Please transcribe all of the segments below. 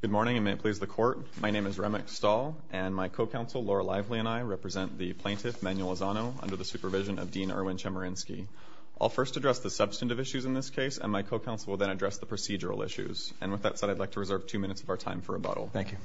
Good morning, and may it please the Court, my name is Ramek Stahl, and my co-counsel, Laura Lively, and I represent the plaintiff, Manuel Lozano, under the supervision of Dean Erwin Chemerinsky. I'll first address the substantive issues in this case, and my co-counsel will then address the procedural issues. And with that said, I'd like to reserve two minutes of our time for rebuttal. Thank you.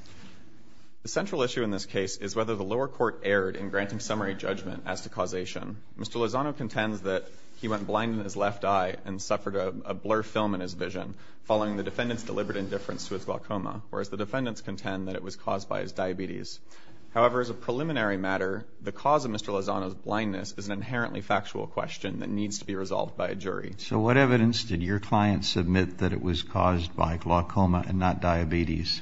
The central issue in this case is whether the lower court erred in granting summary judgment as to causation. Mr. Lozano contends that he went blind in his left eye and suffered a blur film in his vision following the defendant's deliberate indifference to his glaucoma, whereas the defendants contend that it was caused by his diabetes. However, as a preliminary matter, the cause of Mr. Lozano's blindness is an inherently factual question that needs to be resolved by a jury. So what evidence did your client submit that it was caused by glaucoma and not diabetes?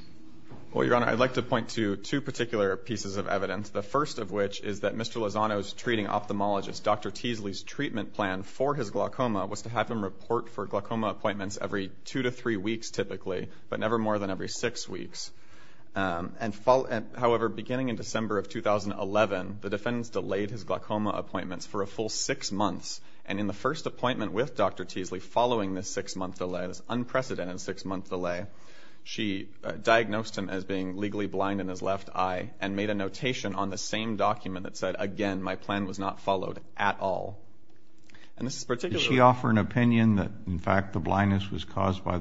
Well, Your Honor, I'd like to point to two particular pieces of evidence. The first of which is that Mr. Lozano's treating ophthalmologist, Dr. Teasley's treatment plan for his glaucoma, was to have him report for glaucoma appointments every two to three weeks, typically, but never more than every six weeks. However, beginning in December of 2011, the defendants delayed his glaucoma appointments for a full six months. And in the first appointment with Dr. Teasley, following this unprecedented six-month delay, she diagnosed him as being legally blind in his left eye and made a notation on the same document that said, again, my plan was not followed at all. Did she offer an opinion that, in fact, the blindness was caused by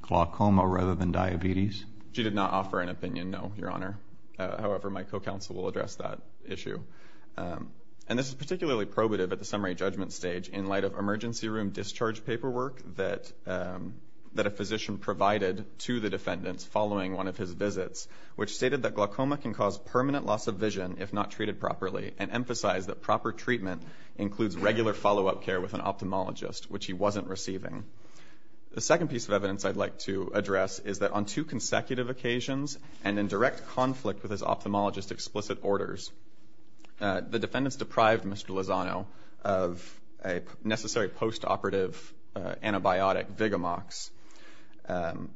glaucoma rather than diabetes? She did not offer an opinion, no, Your Honor. However, my co-counsel will address that issue. And this is particularly probative at the summary judgment stage in light of emergency room discharge paperwork that a physician provided to the defendants following one of his visits, which stated that glaucoma can cause permanent loss of vision if not treated properly and emphasized that proper treatment includes regular follow-up care with an ophthalmologist, which he wasn't receiving. The second piece of evidence I'd like to address is that on two consecutive occasions and in direct conflict with his ophthalmologist's explicit orders, the defendants deprived Mr. Lozano of a necessary post-operative antibiotic, Vigamox,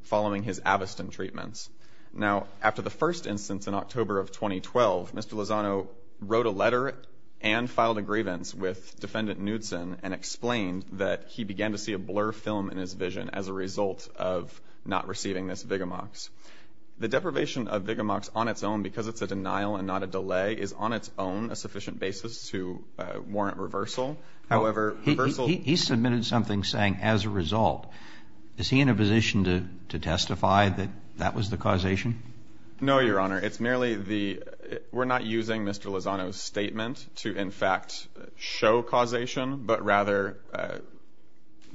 following his Aviston treatments. Now, after the first instance in October of 2012, Mr. Lozano wrote a letter and filed a grievance with Defendant Knudson and explained that he began to see a blur film in his vision as a result of not receiving this Vigamox. The deprivation of Vigamox on its own, because it's a denial and not a delay, is on its own a sufficient basis to warrant reversal. He submitted something saying, as a result. Is he in a position to testify that that was the causation? No, Your Honor. It's merely the – we're not using Mr. Lozano's statement to, in fact, show causation, but rather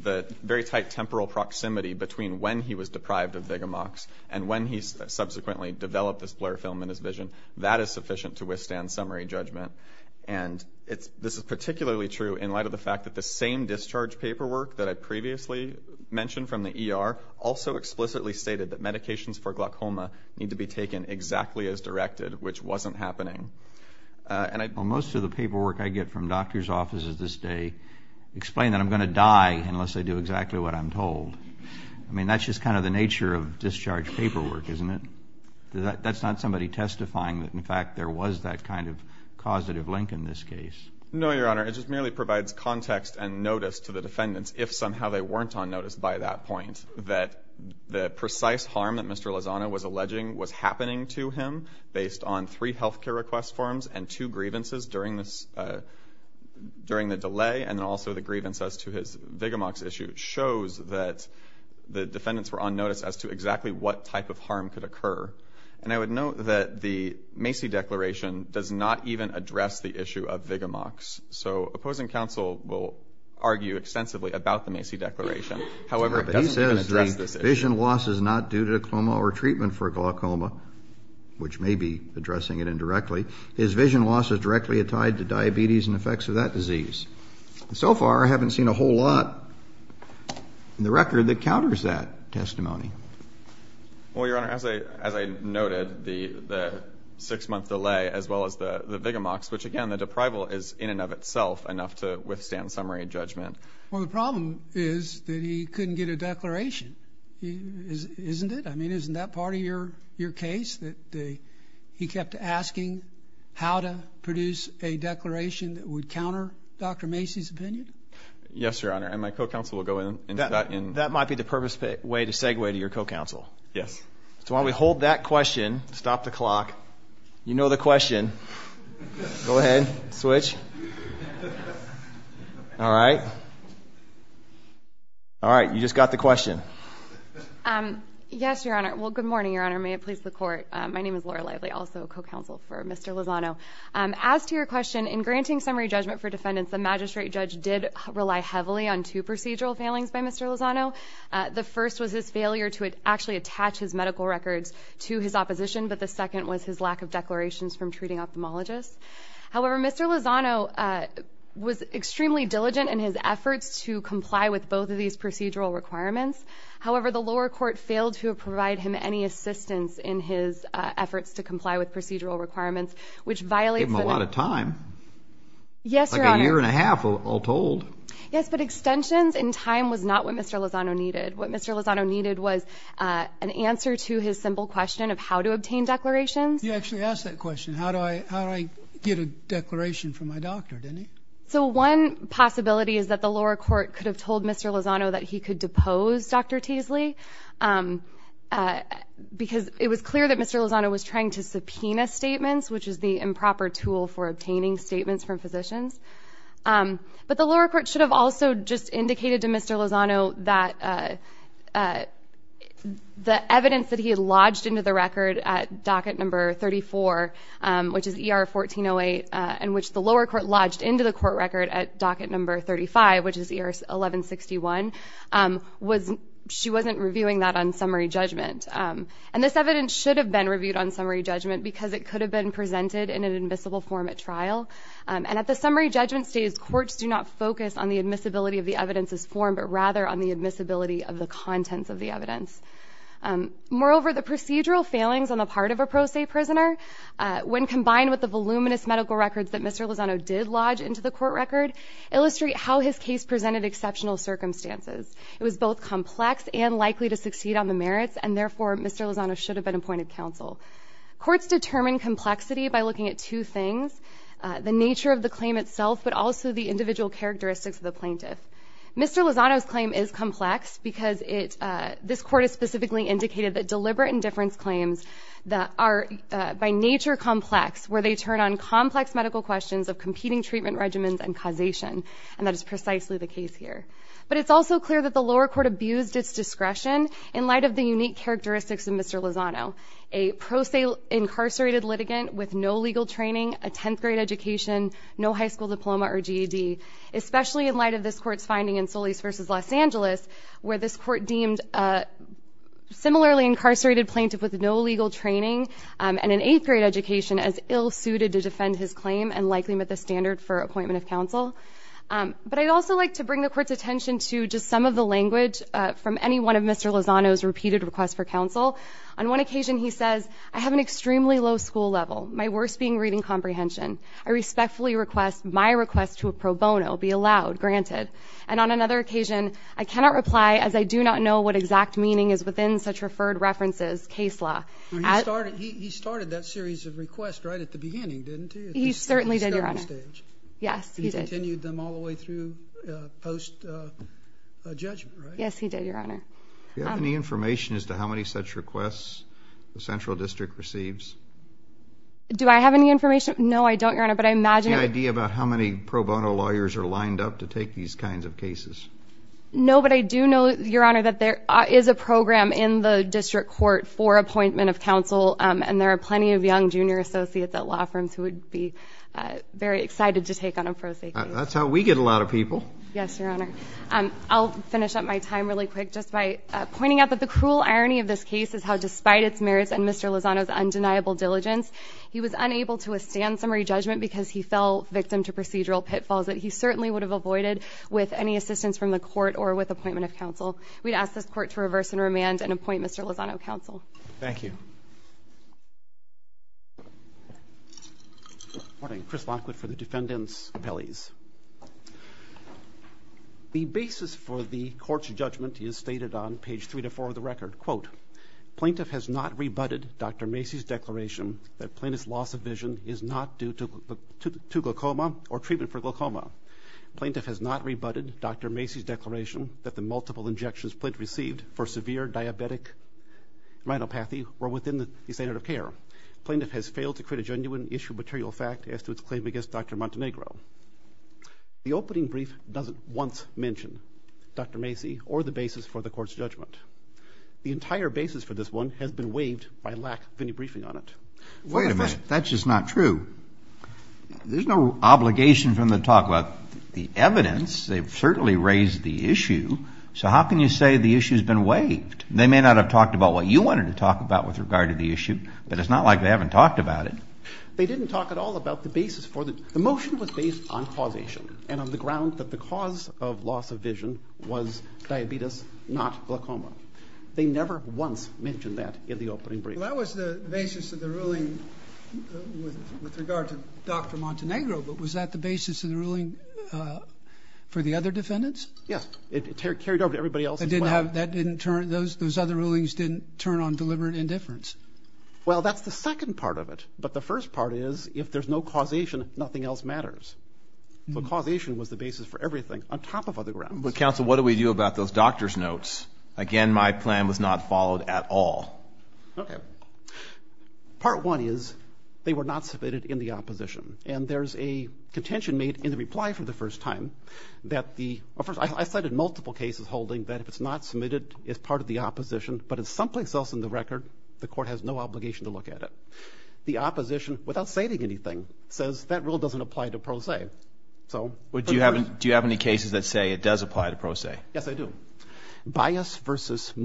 the very tight temporal proximity between when he was deprived of Vigamox and when he subsequently developed this blur film in his vision. That is sufficient to withstand summary judgment. And this is particularly true in light of the fact that the same discharge paperwork that I previously mentioned from the ER also explicitly stated that medications for glaucoma need to be taken exactly as directed, which wasn't happening. Well, most of the paperwork I get from doctors' offices this day explain that I'm going to die unless I do exactly what I'm told. I mean, that's just kind of the nature of discharge paperwork, isn't it? I mean, that's not somebody testifying that, in fact, there was that kind of causative link in this case. No, Your Honor. It just merely provides context and notice to the defendants, if somehow they weren't on notice by that point, that the precise harm that Mr. Lozano was alleging was happening to him based on three health care request forms and two grievances during the delay and then also the grievance as to his Vigamox issue shows that the defendants were on notice as to exactly what type of harm could occur. And I would note that the Macy Declaration does not even address the issue of Vigamox. So opposing counsel will argue extensively about the Macy Declaration. However, he says the vision loss is not due to a coma or treatment for glaucoma, which may be addressing it indirectly. His vision loss is directly tied to diabetes and effects of that disease. So far, I haven't seen a whole lot in the record that counters that testimony. Well, Your Honor, as I noted, the six-month delay as well as the Vigamox, which, again, the deprival is in and of itself enough to withstand summary judgment. Well, the problem is that he couldn't get a declaration, isn't it? I mean, isn't that part of your case, that he kept asking how to produce a declaration that would counter Dr. Macy's opinion? Yes, Your Honor, and my co-counsel will go in. That might be the purposeful way to segue to your co-counsel. Yes. So while we hold that question, stop the clock. You know the question. Go ahead. Switch. All right. All right, you just got the question. Yes, Your Honor. Well, good morning, Your Honor. May it please the Court. My name is Laura Lively, also co-counsel for Mr. Lozano. As to your question, in granting summary judgment for defendants, the magistrate judge did rely heavily on two procedural failings by Mr. Lozano. The first was his failure to actually attach his medical records to his opposition, but the second was his lack of declarations from treating ophthalmologists. However, Mr. Lozano was extremely diligent in his efforts to comply with both of these procedural requirements. However, the lower court failed to provide him any assistance in his efforts to comply with procedural requirements, which violates the name. Gave him a lot of time. Yes, Your Honor. Like a year and a half, all told. Yes, but extensions and time was not what Mr. Lozano needed. What Mr. Lozano needed was an answer to his simple question of how to obtain declarations. You actually asked that question, how do I get a declaration from my doctor, didn't you? So one possibility is that the lower court could have told Mr. Lozano that he could depose Dr. Teasley, because it was clear that Mr. Lozano was trying to subpoena statements, which is the improper tool for obtaining statements from physicians. But the lower court should have also just indicated to Mr. Lozano that the evidence that he had lodged into the record at docket number 34, which is ER 1408, and which the lower court lodged into the court record at docket number 35, which is ER 1161, she wasn't reviewing that on summary judgment. And this evidence should have been reviewed on summary judgment, because it could have been presented in an admissible form at trial. And at the summary judgment stage, courts do not focus on the admissibility of the evidence's form, but rather on the admissibility of the contents of the evidence. Moreover, the procedural failings on the part of a pro se prisoner, when combined with the voluminous medical records that Mr. Lozano did lodge into the court record, illustrate how his case presented exceptional circumstances. It was both complex and likely to succeed on the merits, and therefore Mr. Lozano should have been appointed counsel. Courts determine complexity by looking at two things, the nature of the claim itself, but also the individual characteristics of the plaintiff. Mr. Lozano's claim is complex because this court has specifically indicated that deliberate indifference claims are by nature complex, where they turn on complex medical questions of competing treatment regimens and causation. And that is precisely the case here. But it's also clear that the lower court abused its discretion in light of the unique characteristics of Mr. Lozano, a pro se incarcerated litigant with no legal training, a 10th grade education, no high school diploma or GED, especially in light of this court's finding in Solis v. Los Angeles, where this court deemed a similarly incarcerated plaintiff with no legal training and an 8th grade education as ill suited to defend his claim and likely met the standard for appointment of counsel. But I'd also like to bring the court's attention to just some of the language from any one of Mr. Lozano's repeated requests for counsel. On one occasion he says, I have an extremely low school level, my worst being reading comprehension. I respectfully request my request to a pro bono be allowed, granted. And on another occasion, I cannot reply as I do not know what exact meaning is within such referred references, case law. He started that series of requests right at the beginning, didn't he? He certainly did, Your Honor. He continued them all the way through post-judgment, right? Yes, he did, Your Honor. Do you have any information as to how many such requests the central district receives? Do I have any information? No, I don't, Your Honor. Do you have any idea about how many pro bono lawyers are lined up to take these kinds of cases? No, but I do know, Your Honor, that there is a program in the district court for appointment of counsel, and there are plenty of young junior associates at law firms who would be very excited to take on a pro se case. That's how we get a lot of people. Yes, Your Honor. I'll finish up my time really quick just by pointing out that the cruel irony of this case is how, despite its merits and Mr. Lozano's undeniable diligence, he was unable to withstand summary judgment because he fell victim to procedural pitfalls that he certainly would have avoided with any assistance from the court or with appointment of counsel. We'd ask this court to reverse and remand and appoint Mr. Lozano counsel. Thank you. Morning. Chris Lockwood for the defendants' appellees. The basis for the court's judgment is stated on page 3-4 of the record. Plaintiff has not rebutted Dr. Macy's declaration that Plaintiff's loss of vision is not due to glaucoma or treatment for glaucoma. Plaintiff has not rebutted Dr. Macy's declaration that the multiple injections Plaintiff received for severe diabetic rhinopathy were within the standard of care. Plaintiff has failed to create a genuine issue of material fact as to its claim against Dr. Montenegro. The opening brief doesn't once mention Dr. Macy or the basis for the court's judgment. The entire basis for this one has been waived by lack of any briefing on it. Wait a minute. That's just not true. There's no obligation from the talk about the evidence. They've certainly raised the issue. So how can you say the issue's been waived? They may not have talked about what you wanted to talk about with regard to the issue, but it's not like they haven't talked about it. They didn't talk at all about the basis for the motion was based on causation and on the ground that the cause of loss of vision was diabetes, not glaucoma. They never once mentioned that in the opening brief. Well, that was the basis of the ruling with regard to Dr. Montenegro, but was that the basis of the ruling for the other defendants? Yes. It carried over to everybody else as well. Those other rulings didn't turn on deliberate indifference? Well, that's the second part of it. But the first part is if there's no causation, nothing else matters. So causation was the basis for everything on top of other grounds. But, counsel, what do we do about those doctor's notes? Again, my plan was not followed at all. Okay. Part one is they were not submitted in the opposition, and there's a contention made in the reply for the first time that theó I cited multiple cases holding that if it's not submitted, it's part of the opposition, but it's someplace else in the record, the court has no obligation to look at it. The opposition, without stating anything, says that rule doesn't apply to pro se. Do you have any cases that say it does apply to pro se? Yes, I do. Bias v.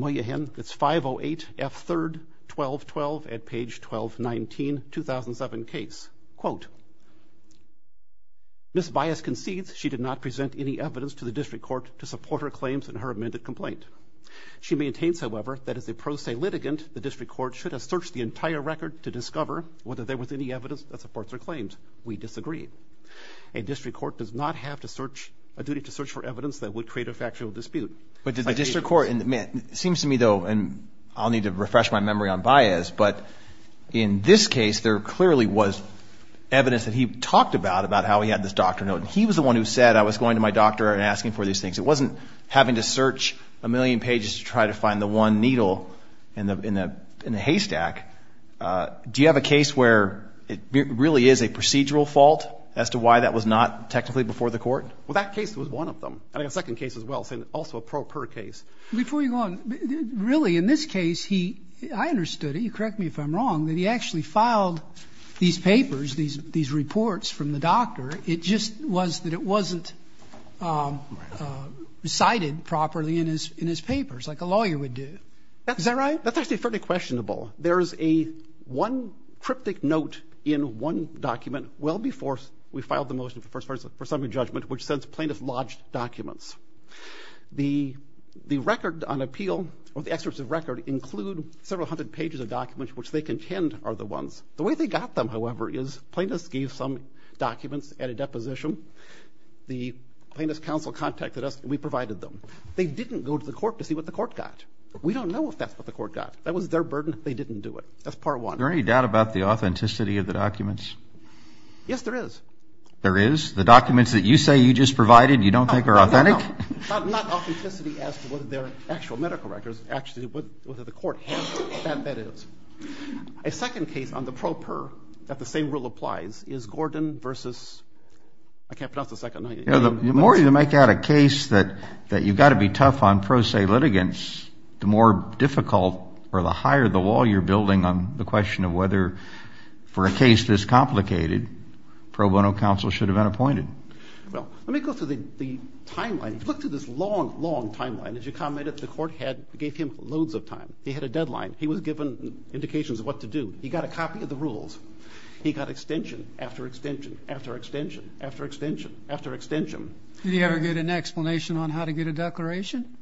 Moyahan, it's 508F3-1212 at page 1219, 2007 case. Quote, Ms. Bias concedes she did not present any evidence to the district court to support her claims in her amended complaint. She maintains, however, that as a pro se litigant, the district court should have searched the entire record to discover whether there was any evidence that supports her claims. We disagree. A district court does not have to searchóa duty to search for evidence that would create a factual dispute. But does a district courtóit seems to me, though, and I'll need to refresh my memory on Bias, but in this case there clearly was evidence that he talked about, about how he had this doctor's note, and he was the one who said I was going to my doctor and asking for these things. It wasn't having to search a million pages to try to find the one needle in the haystack. Do you have a case where it really is a procedural fault as to why that was not technically before the court? Well, that case was one of them. I have a second case as well, also a pro per case. Before you go on, really in this case heóI understood it. You correct me if I'm wrongóthat he actually filed these papers, these reports from the doctor. It just was that it wasn't cited properly in his papers like a lawyer would do. Is that right? That's actually fairly questionable. There is a one cryptic note in one document well before we filed the motion for summary judgment which says plaintiffs lodged documents. The record on appeal or the excerpts of record include several hundred pages of documents which they contend are the ones. The way they got them, however, is plaintiffs gave some documents at a deposition. The plaintiff's counsel contacted us and we provided them. They didn't go to the court to see what the court got. We don't know if that's what the court got. That was their burden. They didn't do it. That's part one. Is there any doubt about the authenticity of the documents? Yes, there is. There is? The documents that you say you just provided you don't think are authentic? No, not authenticity as to whether they're actual medical records, actually whether the court has them, but that is. A second case on the pro per that the same rule applies is Gordon versus I can't pronounce the second name. The more you make out a case that you've got to be tough on pro se litigants, the more difficult or the higher the wall you're building on the question of whether for a case this complicated pro bono counsel should have been appointed. Well, let me go through the timeline. If you look through this long, long timeline, as you commented, the court gave him loads of time. He had a deadline. He was given indications of what to do. He got a copy of the rules. He got extension after extension after extension after extension after extension. Did he ever get an explanation on how to get a declaration?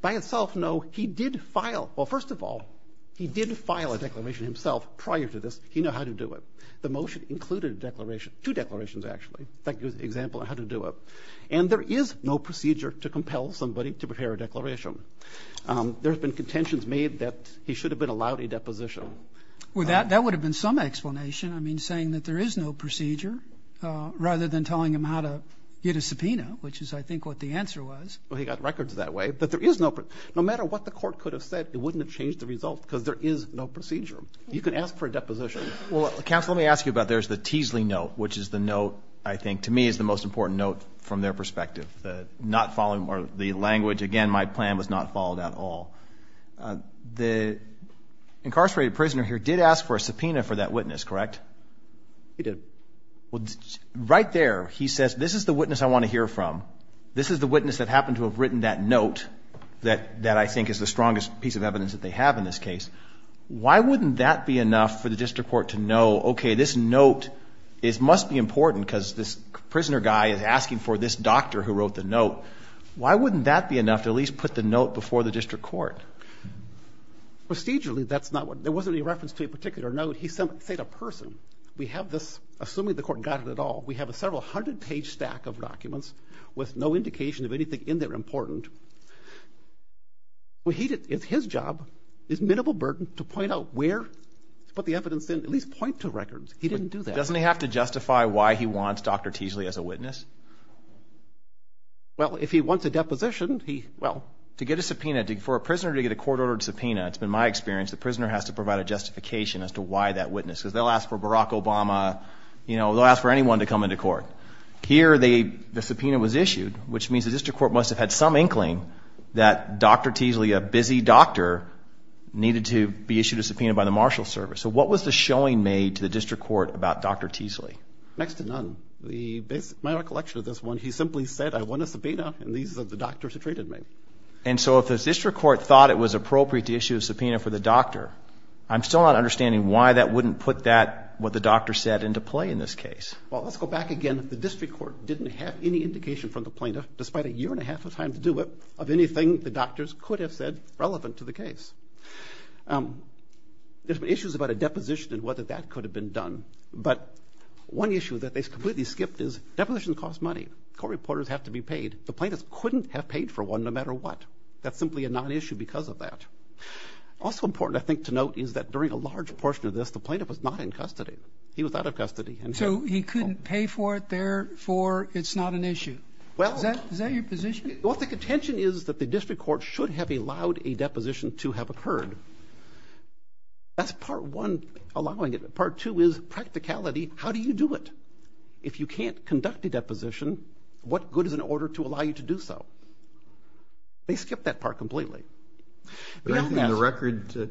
By itself, no. He did file, well, first of all, he did file a declaration himself prior to this. He knew how to do it. The motion included a declaration, two declarations actually. That gives an example on how to do it. And there is no procedure to compel somebody to prepare a declaration. There have been contentions made that he should have been allowed a deposition. Well, that would have been some explanation. I mean, saying that there is no procedure rather than telling him how to get a subpoena, which is, I think, what the answer was. Well, he got records that way. But there is no procedure. No matter what the court could have said, it wouldn't have changed the result because there is no procedure. You can ask for a deposition. Well, counsel, let me ask you about there's the Teasley note, which is the note I think to me is the most important note from their perspective, not following the language. Again, my plan was not followed at all. The incarcerated prisoner here did ask for a subpoena for that witness, correct? He did. Well, right there, he says, this is the witness I want to hear from. This is the witness that happened to have written that note that I think is the strongest piece of evidence that they have in this case. Why wouldn't that be enough for the district court to know, okay, this note must be important because this prisoner guy is asking for this doctor who wrote the note. Why wouldn't that be enough to at least put the note before the district court? Procedurally, there wasn't any reference to a particular note. He said a person. We have this, assuming the court got it at all, we have a several hundred-page stack of documents with no indication of anything in there important. It's his job, his minimal burden, to point out where to put the evidence in, at least point to records. He didn't do that. Doesn't he have to justify why he wants Dr. Teasley as a witness? Well, if he wants a deposition, he, well, to get a subpoena, for a prisoner to get a court-ordered subpoena, it's been my experience, the prisoner has to provide a justification as to why that witness, because they'll ask for Barack Obama, you know, they'll ask for anyone to come into court. Here, the subpoena was issued, which means the district court must have had some inkling that Dr. Teasley, a busy doctor, needed to be issued a subpoena by the marshal service. So what was the showing made to the district court about Dr. Teasley? Next to none. My recollection of this one, he simply said, I want a subpoena, and these are the doctors who treated me. And so if the district court thought it was appropriate to issue a subpoena for the doctor, I'm still not understanding why that wouldn't put that, what the doctor said, into play in this case. Well, let's go back again. The district court didn't have any indication from the plaintiff, despite a year and a half of time to do it, of anything the doctors could have said relevant to the case. There's been issues about a deposition and whether that could have been done. But one issue that they completely skipped is, depositions cost money. Court reporters have to be paid. The plaintiff couldn't have paid for one no matter what. That's simply a non-issue because of that. Also important, I think, to note is that during a large portion of this, the plaintiff was not in custody. He was out of custody. So he couldn't pay for it, therefore it's not an issue. Is that your position? Well, I think the contention is that the district court should have allowed a deposition to have occurred. That's part one allowing it. Part two is practicality. How do you do it? If you can't conduct a deposition, what good is an order to allow you to do so? They skipped that part completely. Does anything in the record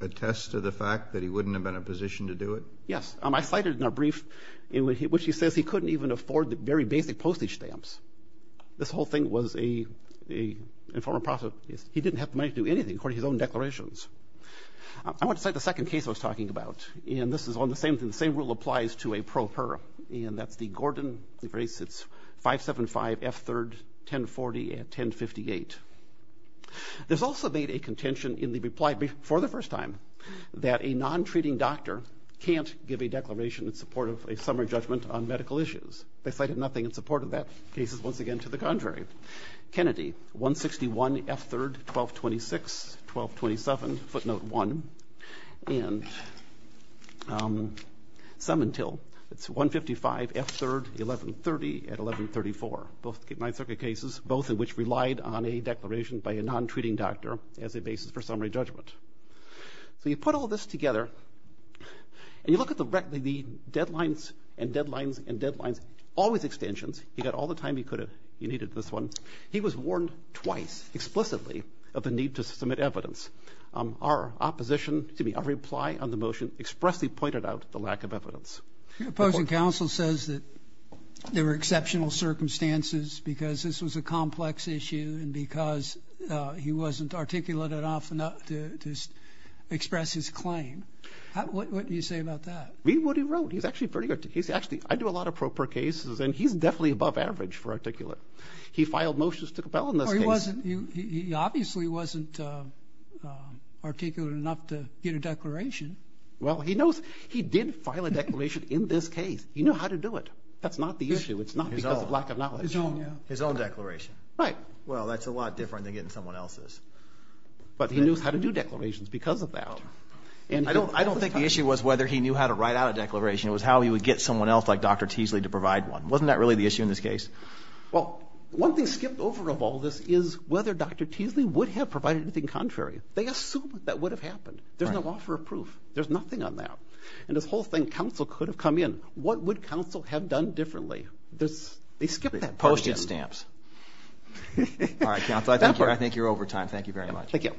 attest to the fact that he wouldn't have been in a position to do it? Yes. I cited in a brief in which he says he couldn't even afford the very basic postage stamps. This whole thing was an informal process. He didn't have the money to do anything according to his own declarations. I want to cite the second case I was talking about, and this is on the same thing. The same rule applies to a pro per, and that's the Gordon 575 F3rd 1040 and 1058. There's also been a contention in the reply for the first time that a non-treating doctor can't give a declaration in support of a summary judgment on medical issues. They cited nothing in support of that. The case is once again to the contrary. Kennedy, 161 F3rd 1226, 1227, footnote one, and some until. It's 155 F3rd 1130 and 1134. Both Ninth Circuit cases, both of which relied on a declaration by a non-treating doctor as a basis for summary judgment. So you put all this together, and you look at the deadlines and deadlines and deadlines, always extensions. He got all the time he could have. He needed this one. He was warned twice explicitly of the need to submit evidence. Our opposition, excuse me, our reply on the motion expressly pointed out the lack of evidence. The opposing counsel says that there were exceptional circumstances because this was a complex issue and because he wasn't articulate enough to express his claim. What do you say about that? Read what he wrote. He's actually pretty articulate. Actually, I do a lot of proper cases, and he's definitely above average for articulate. He filed motions to compel in this case. He obviously wasn't articulate enough to get a declaration. Well, he did file a declaration in this case. He knew how to do it. That's not the issue. It's not because of lack of knowledge. His own declaration. Right. Well, that's a lot different than getting someone else's. But he knew how to do declarations because of that. I don't think the issue was whether he knew how to write out a declaration. It was how he would get someone else like Dr. Teasley to provide one. Wasn't that really the issue in this case? Well, one thing skipped over of all this is whether Dr. Teasley would have provided anything contrary. They assumed that would have happened. There's no offer of proof. There's nothing on that. And this whole thing, counsel could have come in. What would counsel have done differently? They skipped that question. Post-it stamps. All right, counsel, I think you're over time. Thank you very much. Thank you.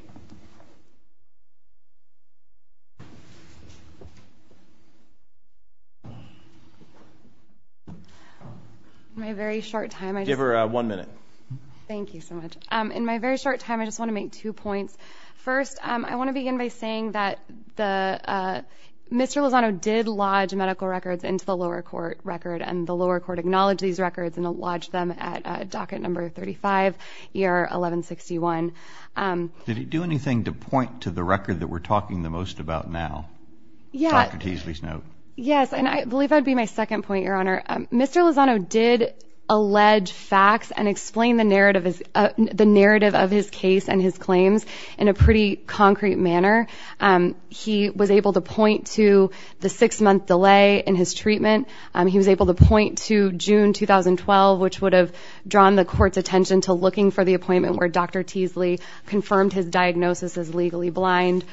In my very short time, I just want to make two points. First, I want to begin by saying that Mr. Lozano did lodge medical records into the lower court record, and the lower court acknowledged these records and lodged them at docket number 35, ER 1161. Did he do anything to point to the record that we're talking the most about now? Yeah. Dr. Teasley's note. Yes, and I believe that would be my second point, Your Honor. Mr. Lozano did allege facts and explain the narrative of his case and his claims in a pretty concrete manner. He was able to point to the six-month delay in his treatment. He was able to point to June 2012, which would have drawn the court's attention to looking for the appointment where Dr. Teasley confirmed his diagnosis as legally blind.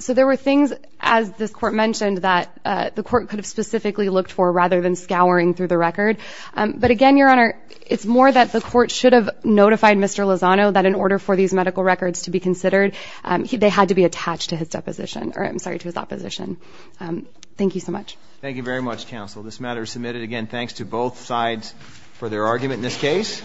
So there were things, as this court mentioned, that the court could have specifically looked for rather than scouring through the record. But again, Your Honor, it's more that the court should have notified Mr. Lozano that in order for these medical records to be considered, they had to be attached to his deposition or, I'm sorry, to his opposition. Thank you so much. Thank you very much, counsel. This matter is submitted. Again, thanks to both sides for their argument in this case.